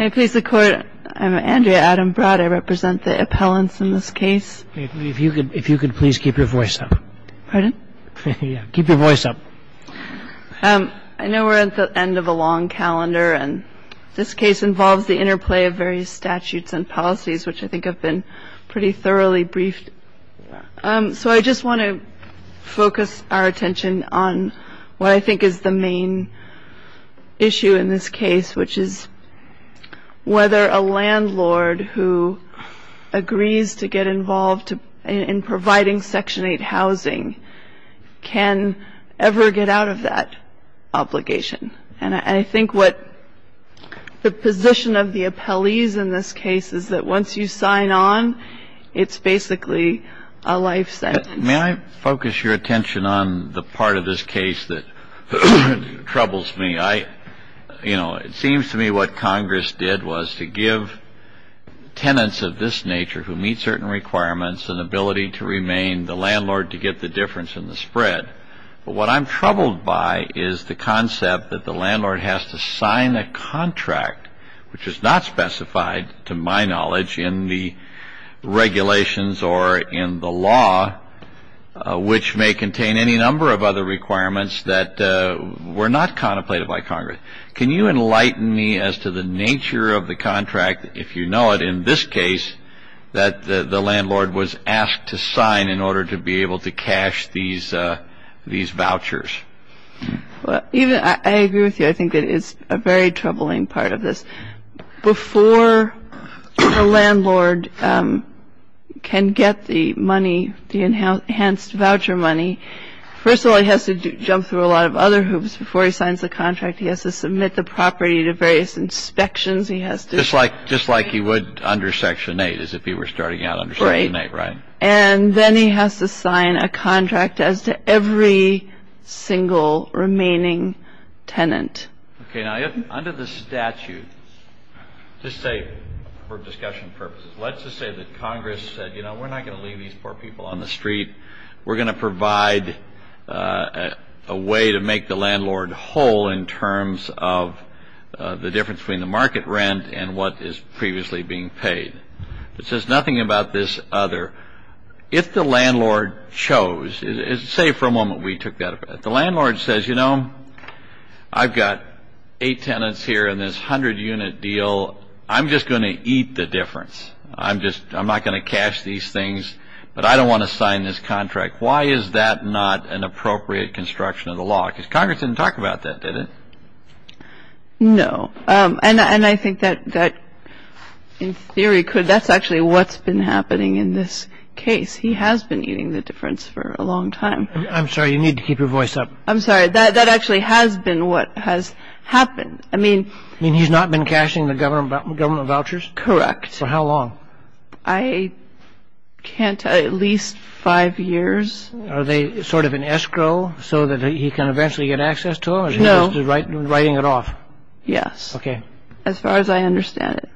I'm Andrea Adam Broad. I represent the appellants in this case. If you could please keep your voice up. Pardon? Keep your voice up. I know we're at the end of a long calendar, and this case involves the interplay of various statutes and policies, which I think have been pretty thoroughly briefed. So I just want to focus our attention on what I think is the main issue in this case, which is whether a landlord who agrees to get involved in providing Section 8 housing can ever get out of that obligation. And I think what the position of the appellees in this case is that once you sign on, it's basically a life sentence. May I focus your attention on the part of this case that troubles me? You know, it seems to me what Congress did was to give tenants of this nature who meet certain requirements an ability to remain the landlord to get the difference in the spread. But what I'm troubled by is the concept that the landlord has to sign a contract, which is not specified, to my knowledge, in the regulations or in the law, which may contain any number of other requirements that were not contemplated by Congress. Can you enlighten me as to the nature of the contract, if you know it, in this case, that the landlord was asked to sign in order to be able to cash these vouchers? I agree with you. I think that it's a very troubling part of this. Before the landlord can get the money, the enhanced voucher money, first of all, he has to jump through a lot of other hoops before he signs the contract. He has to submit the property to various inspections. Just like he would under Section 8, as if he were starting out under Section 8, right? Right. And then he has to sign a contract as to every single remaining tenant. Okay. Now, under the statute, just say for discussion purposes, let's just say that Congress said, you know, we're not going to leave these poor people on the street. We're going to provide a way to make the landlord whole in terms of the difference between the market rent and what is previously being paid. It says nothing about this other. If the landlord chose, say for a moment we took that, the landlord says, you know, I've got eight tenants here in this 100-unit deal. I'm just going to eat the difference. I'm not going to cash these things, but I don't want to sign this contract. Why is that not an appropriate construction of the law? Because Congress didn't talk about that, did it? No. And I think that, in theory, that's actually what's been happening in this case. He has been eating the difference for a long time. I'm sorry. You need to keep your voice up. I'm sorry. That actually has been what has happened. I mean he's not been cashing the government vouchers? Correct. For how long? I can't tell. At least five years. Are they sort of an escrow so that he can eventually get access to them? No. Or is he just writing it off? Yes. Okay. As far as I understand it.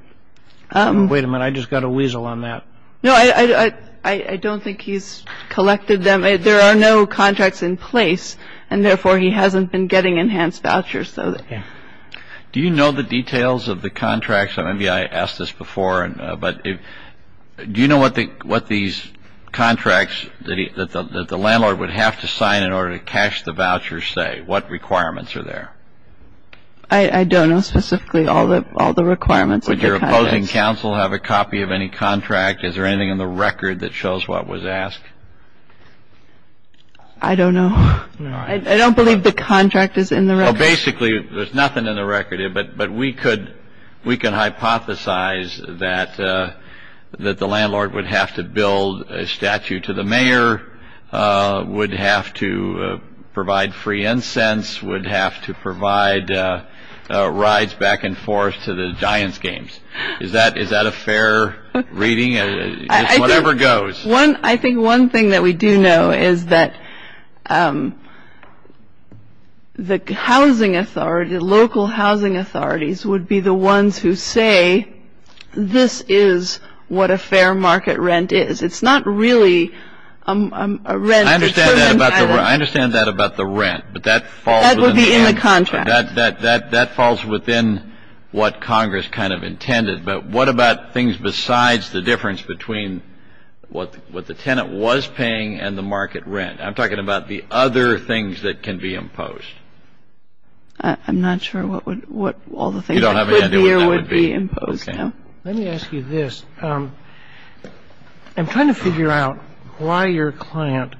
Wait a minute. I just got a weasel on that. No, I don't think he's collected them. There are no contracts in place, and therefore he hasn't been getting enhanced vouchers. Do you know the details of the contracts? Maybe I asked this before, but do you know what these contracts that the landlord would have to sign in order to cash the vouchers say? What requirements are there? I don't know specifically all the requirements. Would your opposing counsel have a copy of any contract? Is there anything in the record that shows what was asked? I don't believe the contract is in the record. Basically, there's nothing in the record. But we can hypothesize that the landlord would have to build a statue to the mayor, would have to provide free incense, would have to provide rides back and forth to the Giants games. Is that a fair reading? It's whatever goes. I think one thing that we do know is that the housing authority, local housing authorities, would be the ones who say this is what a fair market rent is. It's not really a rent. I understand that about the rent. That would be in the contract. That falls within what Congress kind of intended. But what about things besides the difference between what the tenant was paying and the market rent? I'm talking about the other things that can be imposed. I'm not sure what all the things that could be or would be imposed. Let me ask you this. I'm trying to figure out why your client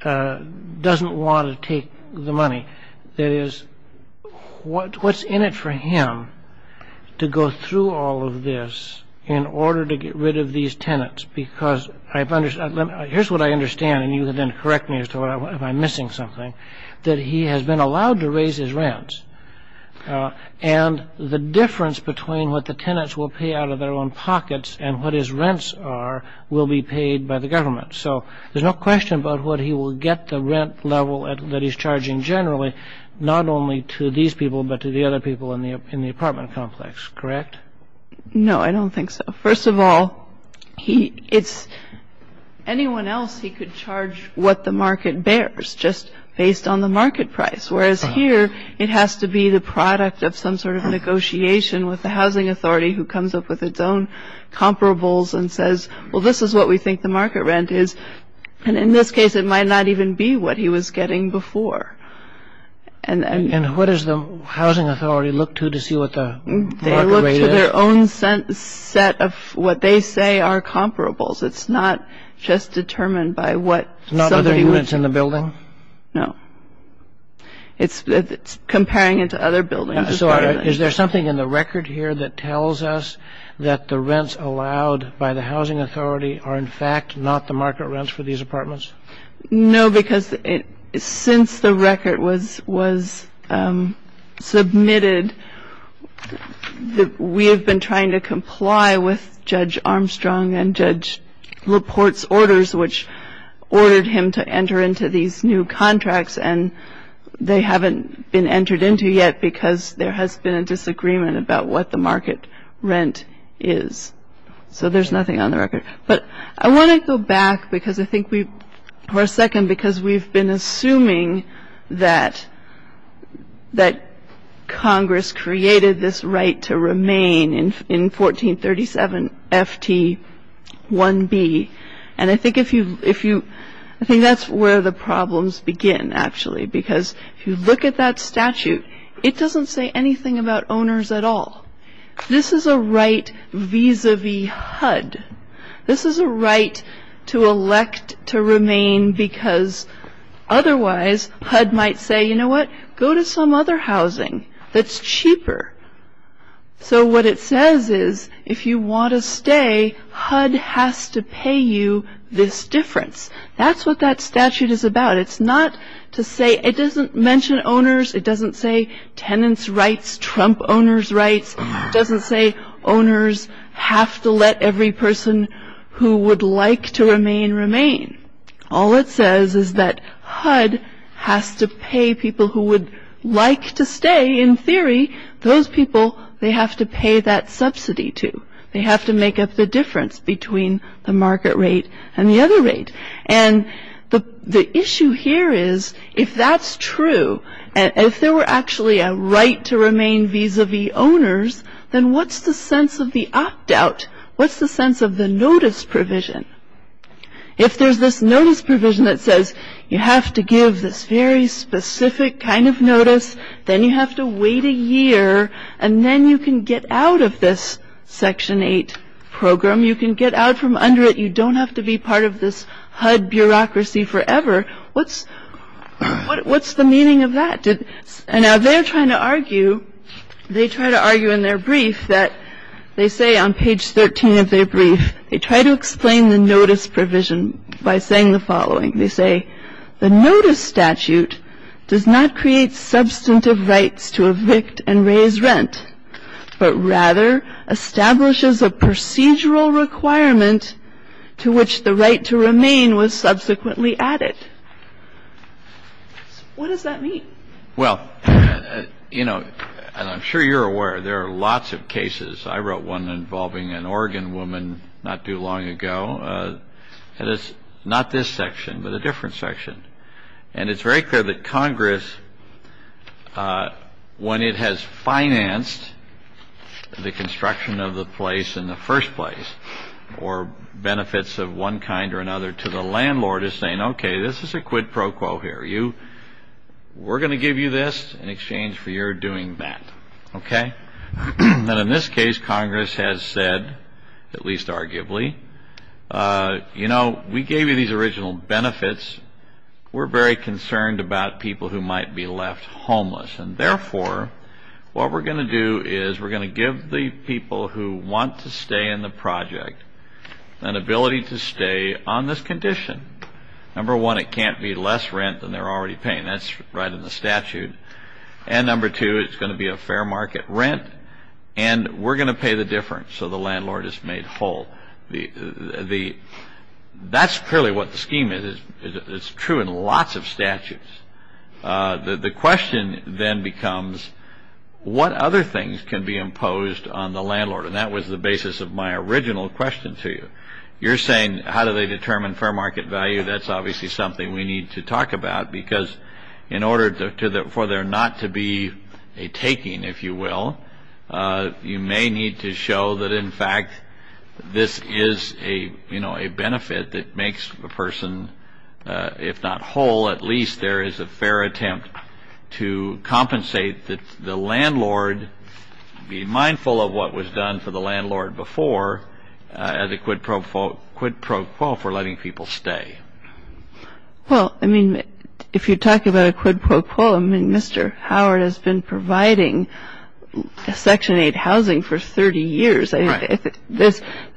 doesn't want to take the money. That is, what's in it for him to go through all of this in order to get rid of these tenants? Because here's what I understand, and you can then correct me if I'm missing something, that he has been allowed to raise his rent. And the difference between what the tenants will pay out of their own pockets and what his rents are will be paid by the government. So there's no question about what he will get, the rent level that he's charging generally, not only to these people but to the other people in the apartment complex. Correct? No, I don't think so. First of all, it's anyone else he could charge what the market bears just based on the market price, whereas here it has to be the product of some sort of negotiation with the housing authority who comes up with its own comparables and says, well, this is what we think the market rent is. And in this case, it might not even be what he was getting before. And what does the housing authority look to to see what the market rate is? They look to their own set of what they say are comparables. It's not just determined by what somebody would... It's not other units in the building? No. It's comparing it to other buildings. So is there something in the record here that tells us that the rents allowed by the housing authority are in fact not the market rents for these apartments? No, because since the record was submitted, we have been trying to comply with Judge Armstrong and Judge LaPorte's orders, which ordered him to enter into these new contracts, and they haven't been entered into yet because there has been a disagreement about what the market rent is. So there's nothing on the record. But I want to go back for a second because we've been assuming that Congress created this right to remain in 1437 FT 1B. And I think that's where the problems begin, actually, because if you look at that statute, it doesn't say anything about owners at all. This is a right vis-a-vis HUD. This is a right to elect to remain because otherwise HUD might say, you know what, go to some other housing that's cheaper. So what it says is if you want to stay, HUD has to pay you this difference. That's what that statute is about. It doesn't mention owners. It doesn't say tenants' rights, Trump owners' rights. It doesn't say owners have to let every person who would like to remain remain. All it says is that HUD has to pay people who would like to stay. In theory, those people, they have to pay that subsidy to. They have to make up the difference between the market rate and the other rate. And the issue here is if that's true, if there were actually a right to remain vis-a-vis owners, then what's the sense of the opt-out? What's the sense of the notice provision? If there's this notice provision that says you have to give this very specific kind of notice, then you have to wait a year, and then you can get out of this Section 8 program. You can get out from under it. You don't have to be part of this HUD bureaucracy forever. What's the meaning of that? And now they're trying to argue, they try to argue in their brief that, they say on page 13 of their brief, they try to explain the notice provision by saying the following. They say, the notice statute does not create substantive rights to evict and raise rent, but rather establishes a procedural requirement to which the right to remain was subsequently added. What does that mean? Well, you know, and I'm sure you're aware, there are lots of cases. I wrote one involving an Oregon woman not too long ago. And it's not this section, but a different section. And it's very clear that Congress, when it has financed the construction of the place in the first place, or benefits of one kind or another to the landlord, is saying, okay, this is a quid pro quo here. We're going to give you this in exchange for your doing that. Okay? And in this case, Congress has said, at least arguably, you know, we gave you these original benefits. We're very concerned about people who might be left homeless. And therefore, what we're going to do is we're going to give the people who want to stay in the project an ability to stay on this condition. Number one, it can't be less rent than they're already paying. That's right in the statute. And number two, it's going to be a fair market rent. And we're going to pay the difference so the landlord is made whole. That's clearly what the scheme is. It's true in lots of statutes. The question then becomes, what other things can be imposed on the landlord? And that was the basis of my original question to you. You're saying, how do they determine fair market value? That's obviously something we need to talk about because in order for there not to be a taking, if you will, you may need to show that, in fact, this is a, you know, a benefit that makes a person, if not whole, at least there is a fair attempt to compensate the landlord, be mindful of what was done for the landlord before as a quid pro quo for letting people stay. Well, I mean, if you're talking about a quid pro quo, I mean, Mr. Howard has been providing Section 8 housing for 30 years. The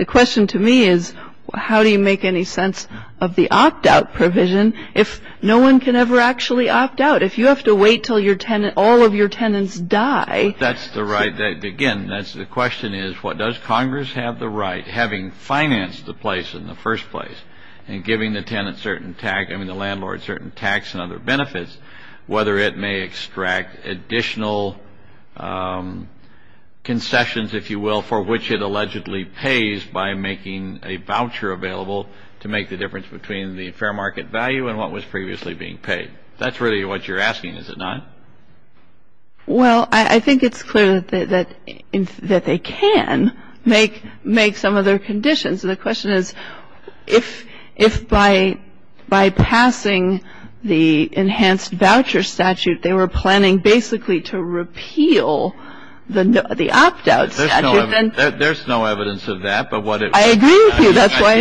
question to me is, how do you make any sense of the opt-out provision if no one can ever actually opt out? If you have to wait until your tenant, all of your tenants die. That's the right, again, that's the question is, what does Congress have the right, having financed the place in the first place, and giving the tenant certain tax, I mean the landlord certain tax and other benefits, whether it may extract additional concessions, if you will, for which it allegedly pays by making a voucher available to make the difference between the fair market value and what was previously being paid. That's really what you're asking, is it not? Well, I think it's clear that they can make some other conditions. And the question is, if by passing the enhanced voucher statute, they were planning basically to repeal the opt-out statute. There's no evidence of that. I agree with you, that's why.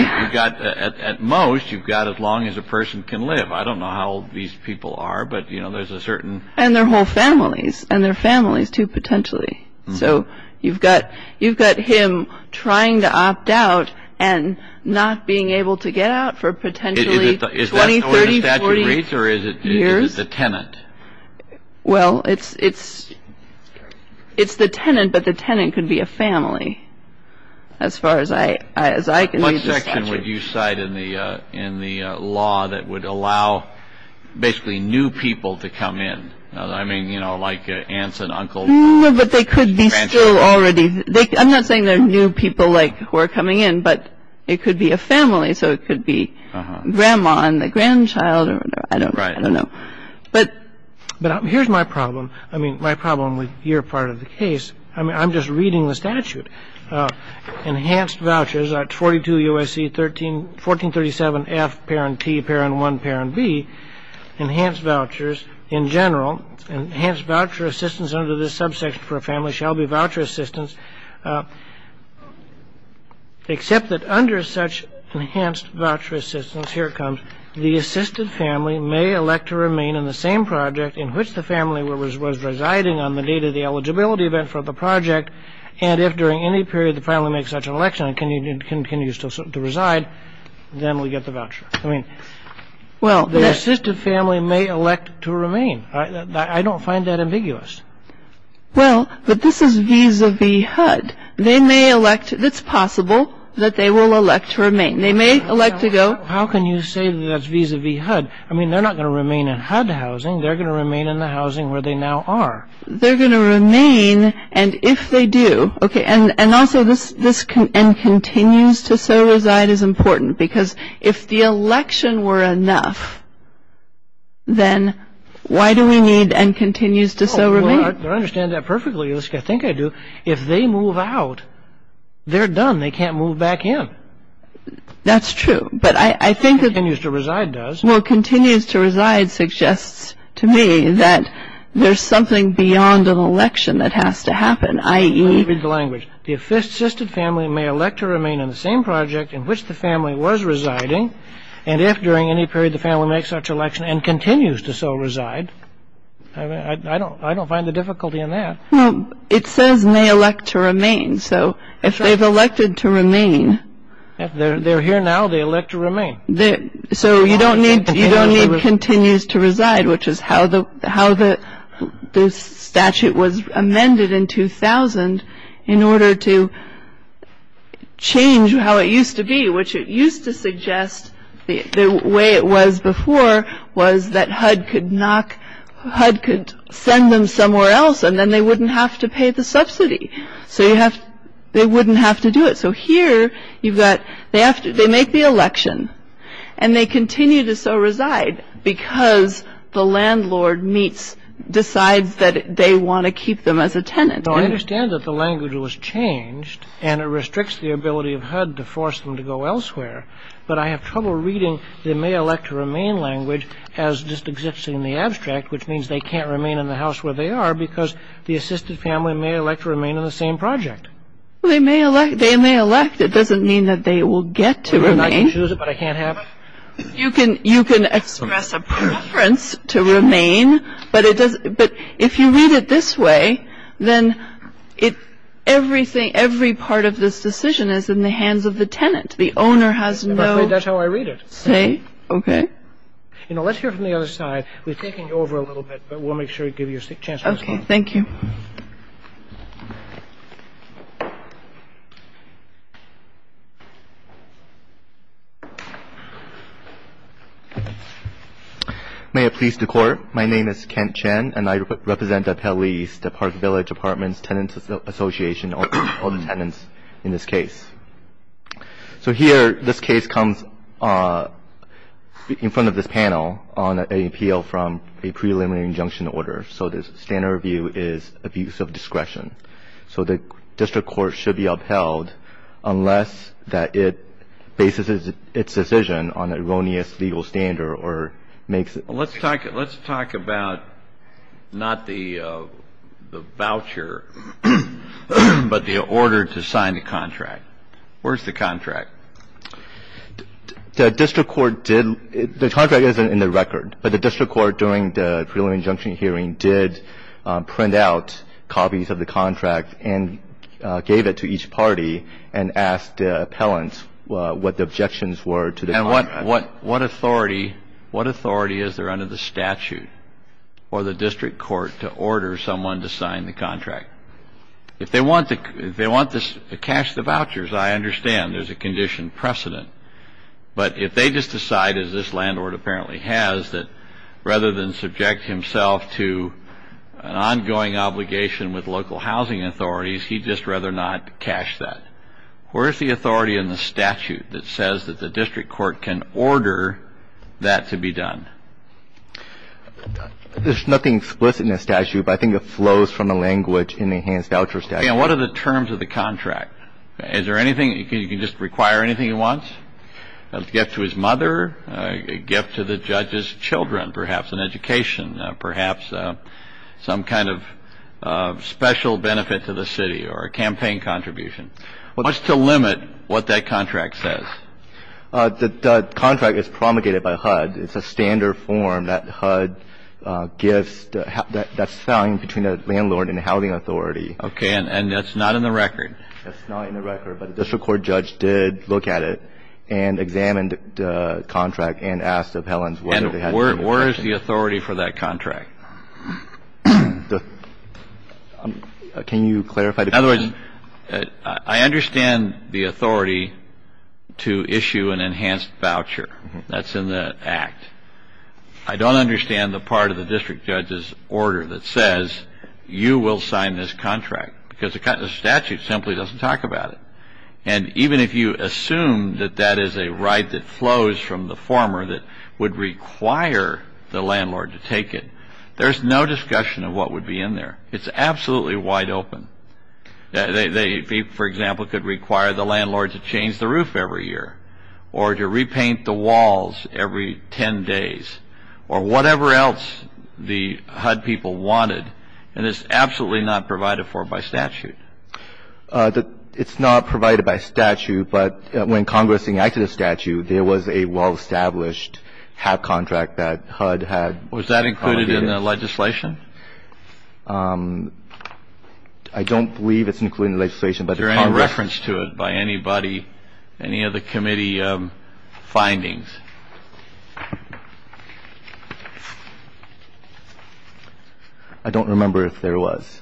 At most, you've got as long as a person can live. I don't know how old these people are, but, you know, there's a certain. And their whole families, and their families, too, potentially. So you've got him trying to opt out and not being able to get out for potentially 20, 30, 40 years. Is that where the statute reads, or is it the tenant? Well, it's the tenant, but the tenant could be a family, as far as I can read the statute. What section would you cite in the law that would allow basically new people to come in? I mean, you know, like aunts and uncles. No, but they could be still already. I'm not saying they're new people, like, who are coming in, but it could be a family. So it could be grandma and the grandchild. I don't know. But here's my problem. I mean, my problem with your part of the case, I mean, I'm just reading the statute. Enhanced vouchers at 42 U.S.C. 1437F, parent T, parent 1, parent B. Enhanced vouchers in general. Enhanced voucher assistance under this subsection for a family shall be voucher assistance, except that under such enhanced voucher assistance, here it comes, the assisted family may elect to remain in the same project in which the family was residing on the date of the eligibility event for the project, and if during any period the family makes such an election, can you still reside, then we get the voucher. I mean, the assisted family may elect to remain. I don't find that ambiguous. Well, but this is vis-a-vis HUD. They may elect. It's possible that they will elect to remain. They may elect to go. How can you say that's vis-a-vis HUD? I mean, they're not going to remain in HUD housing. They're going to remain in the housing where they now are. They're going to remain, and if they do, okay, and also this and continues to so reside is important, because if the election were enough, then why do we need and continues to so remain? Well, I understand that perfectly. I think I do. If they move out, they're done. They can't move back in. That's true, but I think that the Continues to reside does. to me that there's something beyond an election that has to happen, i.e. Let me read the language. The assisted family may elect to remain in the same project in which the family was residing, and if during any period the family makes such an election and continues to so reside. I don't find the difficulty in that. It says may elect to remain, so if they've elected to remain. If they're here now, they elect to remain. So you don't need continues to reside, which is how the statute was amended in 2000 in order to change how it used to be, which it used to suggest the way it was before was that HUD could knock, HUD could send them somewhere else, and then they wouldn't have to pay the subsidy. So they wouldn't have to do it. So here you've got they make the election, and they continue to so reside because the landlord decides that they want to keep them as a tenant. I understand that the language was changed, and it restricts the ability of HUD to force them to go elsewhere, but I have trouble reading the may elect to remain language as just existing in the abstract, which means they can't remain in the house where they are because the assisted family may elect to remain in the same project. Well, they may elect. They may elect. It doesn't mean that they will get to remain. I can choose it, but I can't have it? You can express a preference to remain, but if you read it this way, then everything, every part of this decision is in the hands of the tenant. The owner has no say. That's how I read it. Okay. You know, let's hear from the other side. We've taken you over a little bit, but we'll make sure to give you a chance to respond. Okay. Thank you. Thank you. May it please the Court, my name is Kent Chen, and I represent the Appellees, the Park Village Apartments Tenants Association, all the tenants in this case. So here, this case comes in front of this panel on an appeal from a preliminary injunction order. So the standard review is abuse of discretion. So the district court should be upheld unless that it bases its decision on an erroneous legal standard or makes it. Let's talk about not the voucher, but the order to sign the contract. Where's the contract? The district court did, the contract is in the record, but the district court during the preliminary injunction hearing did print out copies of the contract and gave it to each party and asked the appellants what the objections were to the contract. And what authority is there under the statute for the district court to order someone to sign the contract? If they want to cash the vouchers, I understand there's a condition precedent. But if they just decide, as this landlord apparently has, that rather than subject himself to an ongoing obligation with local housing authorities, he'd just rather not cash that. Where's the authority in the statute that says that the district court can order that to be done? There's nothing explicit in the statute, but I think it flows from the language in the enhanced voucher statute. And what are the terms of the contract? Is there anything, you can just require anything he wants? A gift to his mother, a gift to the judge's children, perhaps an education, perhaps some kind of special benefit to the city or a campaign contribution. What's to limit what that contract says? The contract is promulgated by HUD. It's a standard form that HUD gives that's signed between the landlord and the housing authority. Okay. And that's not in the record? That's not in the record, but the district court judge did look at it and examined the contract and asked the appellants whether they had any objection. And where is the authority for that contract? Can you clarify the question? In other words, I understand the authority to issue an enhanced voucher. That's in the Act. I don't understand the part of the district judge's order that says you will sign this contract, because the statute simply doesn't talk about it. And even if you assume that that is a right that flows from the former that would require the landlord to take it, there's no discussion of what would be in there. It's absolutely wide open. They, for example, could require the landlord to change the roof every year or to repaint the walls every ten days or whatever else the HUD people wanted, and it's absolutely not provided for by statute. It's not provided by statute, but when Congress enacted a statute, there was a well-established HAP contract that HUD had promulgated. Was that included in the legislation? I don't believe it's included in the legislation, but the Congress ---- Is there any reference to it by anybody, any of the committee findings? I don't remember if there was.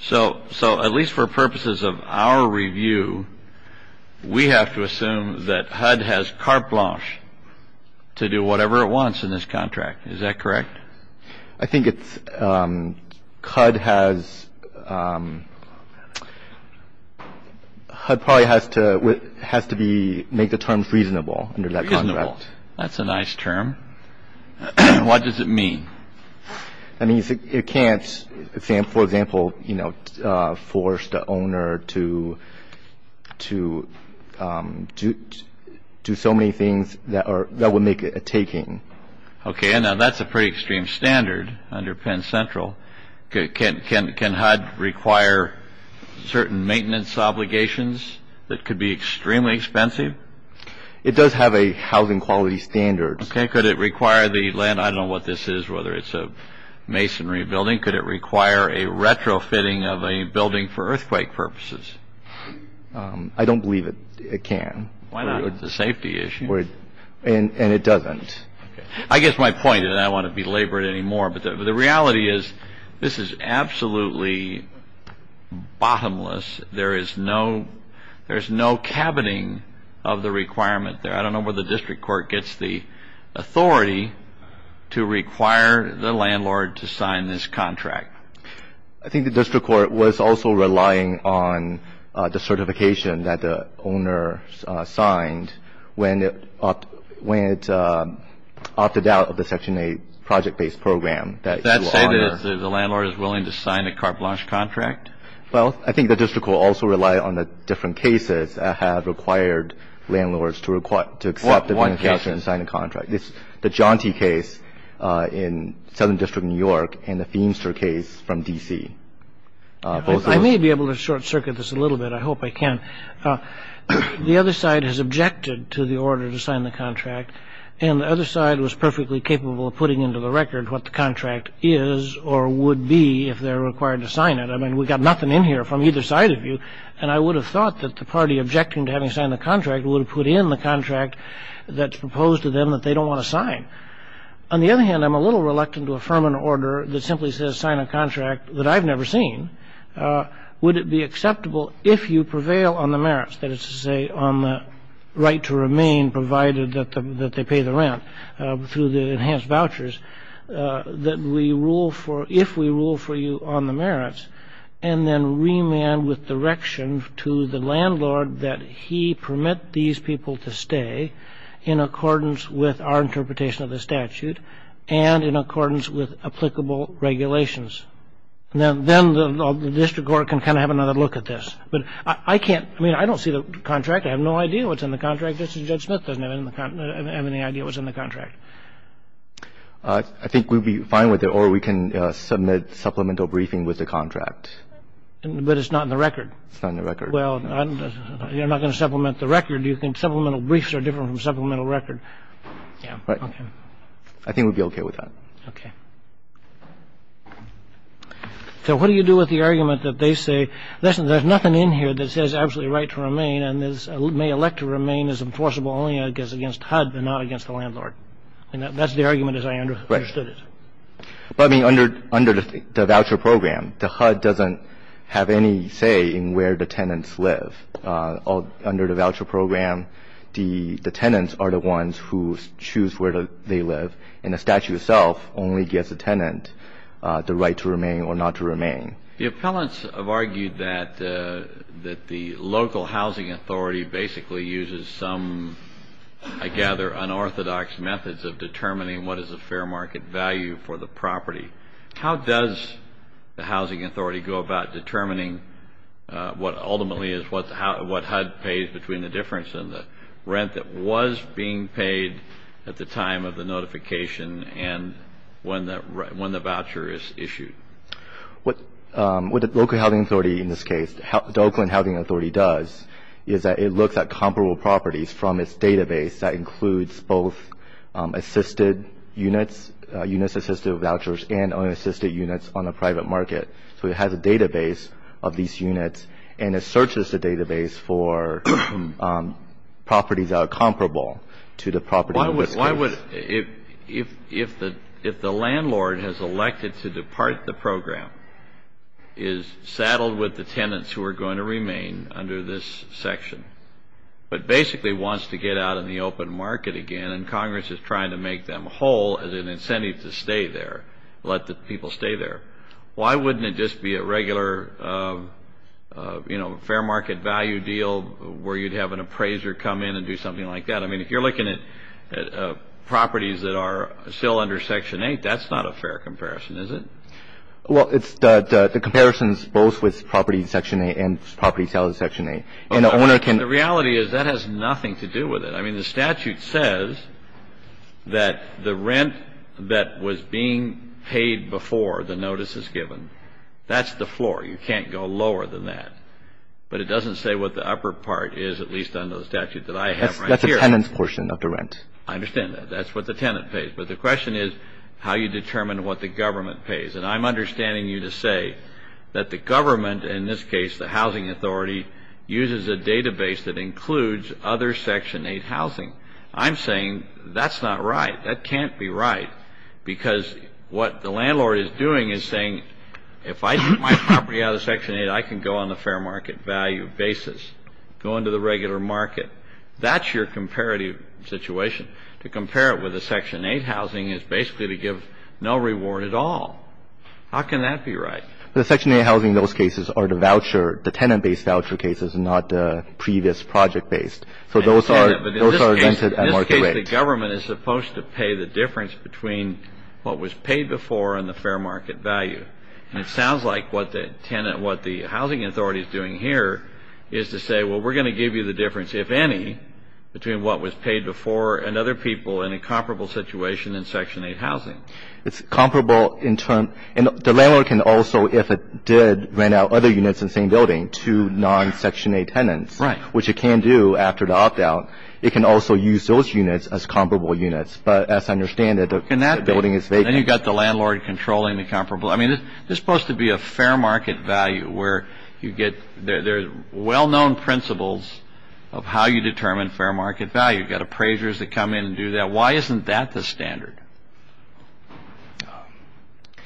So at least for purposes of our review, we have to assume that HUD has carte blanche to do whatever it wants in this contract. Is that correct? I think it's HUD has to make the terms reasonable under that contract. That's a nice term. What does it mean? It can't, for example, force the owner to do so many things that would make it a taking. Okay. Now, that's a pretty extreme standard under Penn Central. Can HUD require certain maintenance obligations that could be extremely expensive? It does have a housing quality standard. Okay. Could it require the land? I don't know what this is, whether it's a masonry building. Could it require a retrofitting of a building for earthquake purposes? I don't believe it can. Why not? It's a safety issue. And it doesn't. I guess my point is I don't want to belabor it anymore, but the reality is this is absolutely bottomless. There is no cabining of the requirement there. I don't know where the district court gets the authority to require the landlord to sign this contract. I think the district court was also relying on the certification that the owner signed when it opted out of the Section 8 project-based program. Does that say that the landlord is willing to sign a carte blanche contract? Well, I think the district court also relied on the different cases that have required landlords to accept the beneficiary and sign the contract. The Jaunty case in Southern District, New York, and the Feimster case from D.C. I may be able to short-circuit this a little bit. I hope I can. The other side has objected to the order to sign the contract, and the other side was perfectly capable of putting into the record what the contract is or would be if they're required to sign it. I mean, we've got nothing in here from either side of you, and I would have thought that the party objecting to having signed the contract would have put in the contract that's proposed to them that they don't want to sign. On the other hand, I'm a little reluctant to affirm an order that simply says sign a contract that I've never seen. Would it be acceptable if you prevail on the merits, that is to say on the right to remain provided that they pay the rent through the enhanced vouchers, that we rule for, if we rule for you on the merits, and then remand with direction to the landlord that he permit these people to stay in accordance with our interpretation of the statute and in accordance with applicable regulations? Then the district court can kind of have another look at this. But I can't, I mean, I don't see the contract. I have no idea what's in the contract. Justice Judge Smith doesn't have any idea what's in the contract. I think we'd be fine with it, or we can submit supplemental briefing with the contract. But it's not in the record. It's not in the record. Well, you're not going to supplement the record. Do you think supplemental briefs are different from supplemental record? Yeah. Right. I think we'd be okay with that. Okay. So what do you do with the argument that they say, listen, there's nothing in here that says absolutely right to remain, and this may elect to remain as enforceable only against HUD and not against the landlord? And that's the argument as I understood it. Right. But, I mean, under the voucher program, the HUD doesn't have any say in where the tenants live. Under the voucher program, the tenants are the ones who choose where they live, and the statute itself only gives the tenant the right to remain or not to remain. The appellants have argued that the local housing authority basically uses some, I gather, unorthodox methods of determining what is a fair market value for the property. How does the housing authority go about determining what ultimately is, what HUD pays between the difference in the rent that was being paid at the time of the notification and when the voucher is issued? What the local housing authority in this case, the Oakland Housing Authority does, is that it looks at comparable properties from its database that includes both assisted units, units assisted with vouchers, and only assisted units on a private market. So it has a database of these units, and it searches the database for properties that are comparable to the property in this case. If the landlord has elected to depart the program, is saddled with the tenants who are going to remain under this section, but basically wants to get out in the open market again and Congress is trying to make them whole as an incentive to stay there, let the people stay there, why wouldn't it just be a regular fair market value deal where you'd have an appraiser come in and do something like that? I mean, if you're looking at properties that are still under Section 8, that's not a fair comparison, is it? Well, it's the comparisons both with property in Section 8 and property sales in Section 8. And the owner can – The reality is that has nothing to do with it. I mean, the statute says that the rent that was being paid before the notice is given, that's the floor. You can't go lower than that. But it doesn't say what the upper part is, at least under the statute that I have right here. That's the tenant's portion of the rent. I understand that. That's what the tenant pays. But the question is how you determine what the government pays. And I'm understanding you to say that the government, in this case the Housing Authority, uses a database that includes other Section 8 housing. I'm saying that's not right. That can't be right because what the landlord is doing is saying if I get my property out of Section 8, I can go on a fair market value basis, go into the regular market. That's your comparative situation. To compare it with the Section 8 housing is basically to give no reward at all. How can that be right? The Section 8 housing in those cases are the voucher, the tenant-based voucher cases, not the previous project-based. So those are rented at market rate. In this case, the government is supposed to pay the difference between what was paid before and the fair market value. And it sounds like what the tenant, what the Housing Authority is doing here is to say, well, we're going to give you the difference, if any, between what was paid before and other people in a comparable situation in Section 8 housing. It's comparable in terms of the landlord can also, if it did rent out other units in the same building to non-Section 8 tenants. Right. Which it can do after the opt-out. It can also use those units as comparable units. But as I understand it, the building is vacant. Then you've got the landlord controlling the comparable. I mean, there's supposed to be a fair market value where you get, there's well-known principles of how you determine fair market value. You've got appraisers that come in and do that. Why isn't that the standard?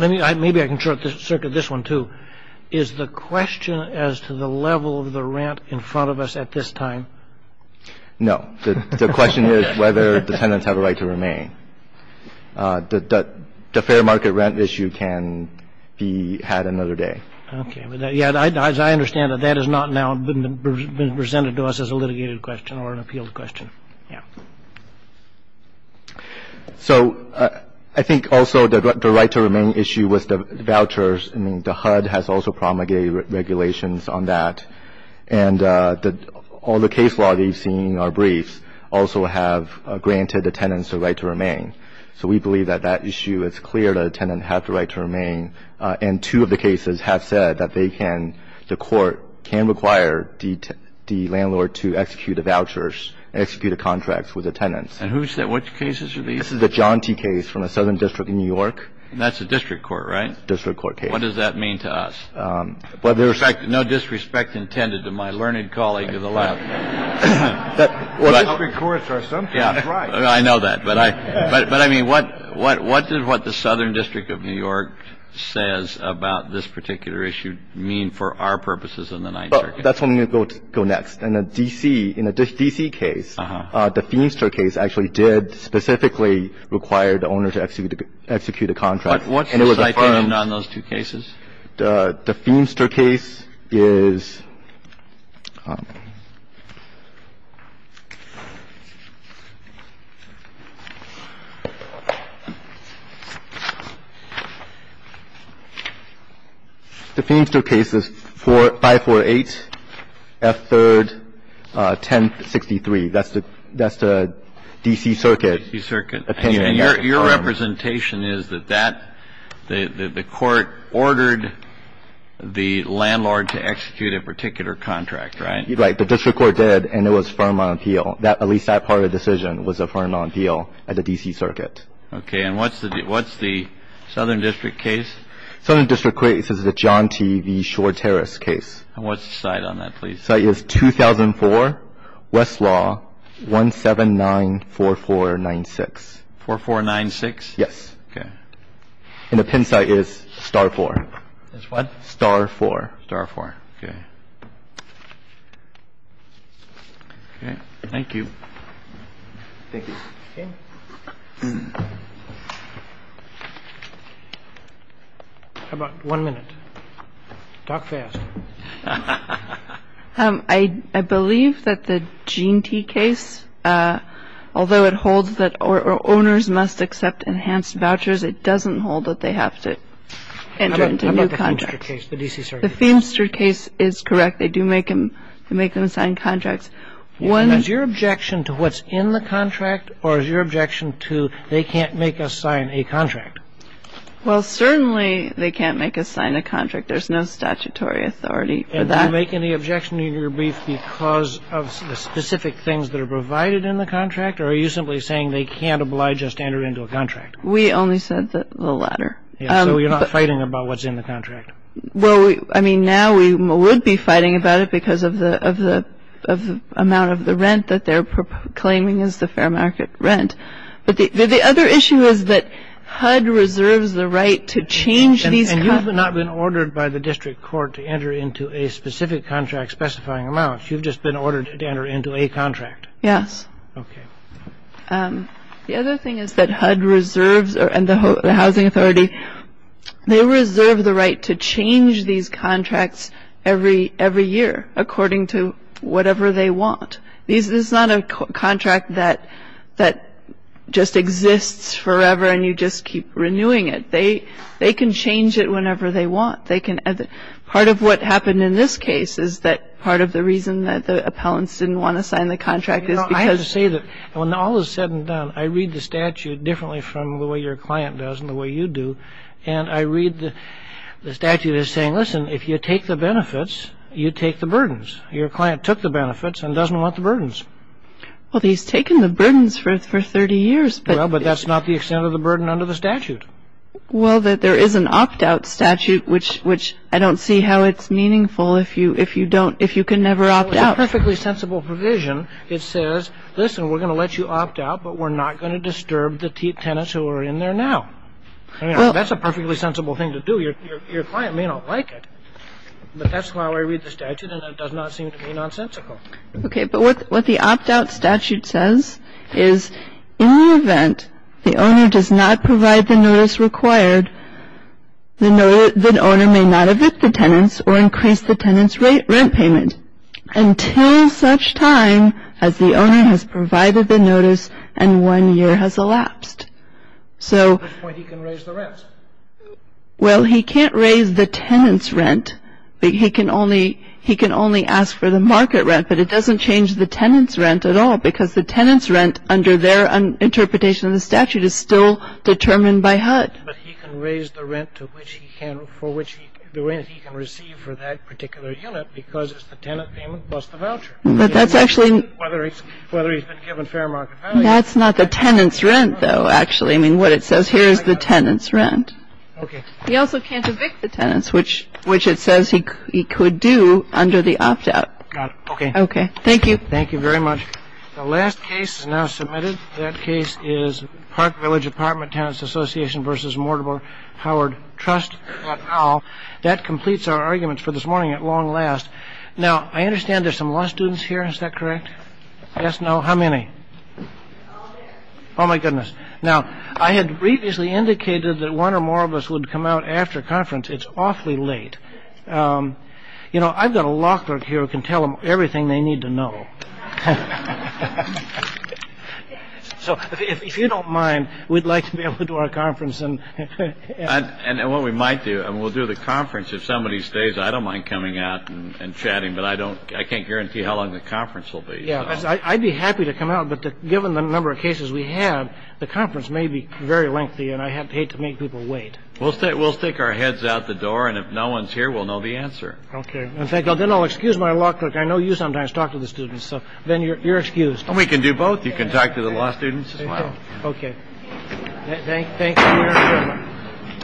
Maybe I can short-circuit this one, too. Is the question as to the level of the rent in front of us at this time? No. The question is whether the tenants have a right to remain. The fair market rent issue can be had another day. Okay. Yeah, as I understand it, that has not now been presented to us as a litigated question or an appealed question. Yeah. So I think also the right to remain issue with the vouchers, I mean, the HUD has also promulgated regulations on that. And all the case law that you've seen in our briefs also have granted the tenants the right to remain. So we believe that that issue is clear, that a tenant has the right to remain. And two of the cases have said that they can, the court can require the landlord to execute a voucher, execute a contract with the tenants. And who said which cases are these? This is the John T. case from the Southern District in New York. And that's a district court, right? District court case. What does that mean to us? No disrespect intended to my learned colleague to the left. District courts are sometimes right. I know that. But I mean, what does what the Southern District of New York says about this particular issue mean for our purposes in the Ninth Circuit? That's what I'm going to go next. In the D.C. case, the Feenster case actually did specifically require the owner to execute a contract. What's the citation on those two cases? The Feenster case is 548F3, 1063. That's the D.C. Circuit opinion. And your representation is that the court ordered the landlord to execute a particular contract, right? Right. The district court did, and it was firm on appeal. At least that part of the decision was affirmed on appeal at the D.C. Circuit. Okay. And what's the Southern District case? Southern District case is the John T. v. Shore Terrace case. And what's the cite on that, please? The cite is 2004, Westlaw, 1794496. 4496? Yes. Okay. And the pen cite is Star 4. It's what? Star 4. Star 4. Okay. Okay. Thank you. Thank you. Okay. How about one minute? Talk fast. I believe that the Gene T. case, although it holds that owners must accept enhanced vouchers, it doesn't hold that they have to enter into new contracts. How about the Feenster case, the D.C. Circuit case? The Feenster case is correct. They do make them sign contracts. And is your objection to what's in the contract, or is your objection to they can't make us sign a contract? Well, certainly they can't make us sign a contract. There's no statutory authority for that. And do you make any objection to your brief because of the specific things that are provided in the contract, or are you simply saying they can't oblige us to enter into a contract? We only said the latter. So you're not fighting about what's in the contract? Well, I mean, now we would be fighting about it because of the amount of the rent that they're claiming is the fair market rent. But the other issue is that HUD reserves the right to change these contracts. You have not been ordered by the district court to enter into a specific contract specifying amounts. You've just been ordered to enter into a contract. Yes. Okay. The other thing is that HUD reserves, and the Housing Authority, they reserve the right to change these contracts every year according to whatever they want. This is not a contract that just exists forever and you just keep renewing it. They can change it whenever they want. Part of what happened in this case is that part of the reason that the appellants didn't want to sign the contract is because- You know, I have to say that when all is said and done, I read the statute differently from the way your client does and the way you do, and I read the statute as saying, listen, if you take the benefits, you take the burdens. Your client took the benefits and doesn't want the burdens. Well, he's taken the burdens for 30 years. Well, but that's not the extent of the burden under the statute. Well, there is an opt-out statute, which I don't see how it's meaningful if you can never opt out. It's a perfectly sensible provision. It says, listen, we're going to let you opt out, but we're not going to disturb the tenants who are in there now. That's a perfectly sensible thing to do. Your client may not like it, but that's how I read the statute and it does not seem to be nonsensical. Okay, but what the opt-out statute says is in the event the owner does not provide the notice required, the owner may not evict the tenants or increase the tenant's rent payment until such time as the owner has provided the notice and one year has elapsed. So- At which point he can raise the rent. Well, he can't raise the tenant's rent. He can only ask for the market rent, but it doesn't change the tenant's rent at all because the tenant's rent under their interpretation of the statute is still determined by HUD. But he can raise the rent for which he can receive for that particular unit because it's the tenant payment plus the voucher. But that's actually- Whether he's been given fair market value. That's not the tenant's rent, though, actually. I mean, what it says here is the tenant's rent. Okay. He also can't evict the tenants, which it says he could do under the opt-out. Got it. Okay. Okay. Thank you. Thank you very much. The last case is now submitted. That case is Park Village Apartment Tenants Association v. Mortimer Howard Trust, et al. That completes our arguments for this morning at long last. Now, I understand there's some law students here. Is that correct? Yes? No? How many? All there. Oh, my goodness. Now, I had previously indicated that one or more of us would come out after conference. It's awfully late. You know, I've got a law clerk here who can tell them everything they need to know. So if you don't mind, we'd like to be able to do our conference. And what we might do, we'll do the conference. If somebody stays, I don't mind coming out and chatting, but I can't guarantee how long the conference will be. Yeah. I'd be happy to come out. But given the number of cases we have, the conference may be very lengthy. And I hate to make people wait. We'll say we'll stick our heads out the door. And if no one's here, we'll know the answer. OK. Thank you. Then I'll excuse my law clerk. I know you sometimes talk to the students. So then you're excused. We can do both. You can talk to the law students. OK. Thank you.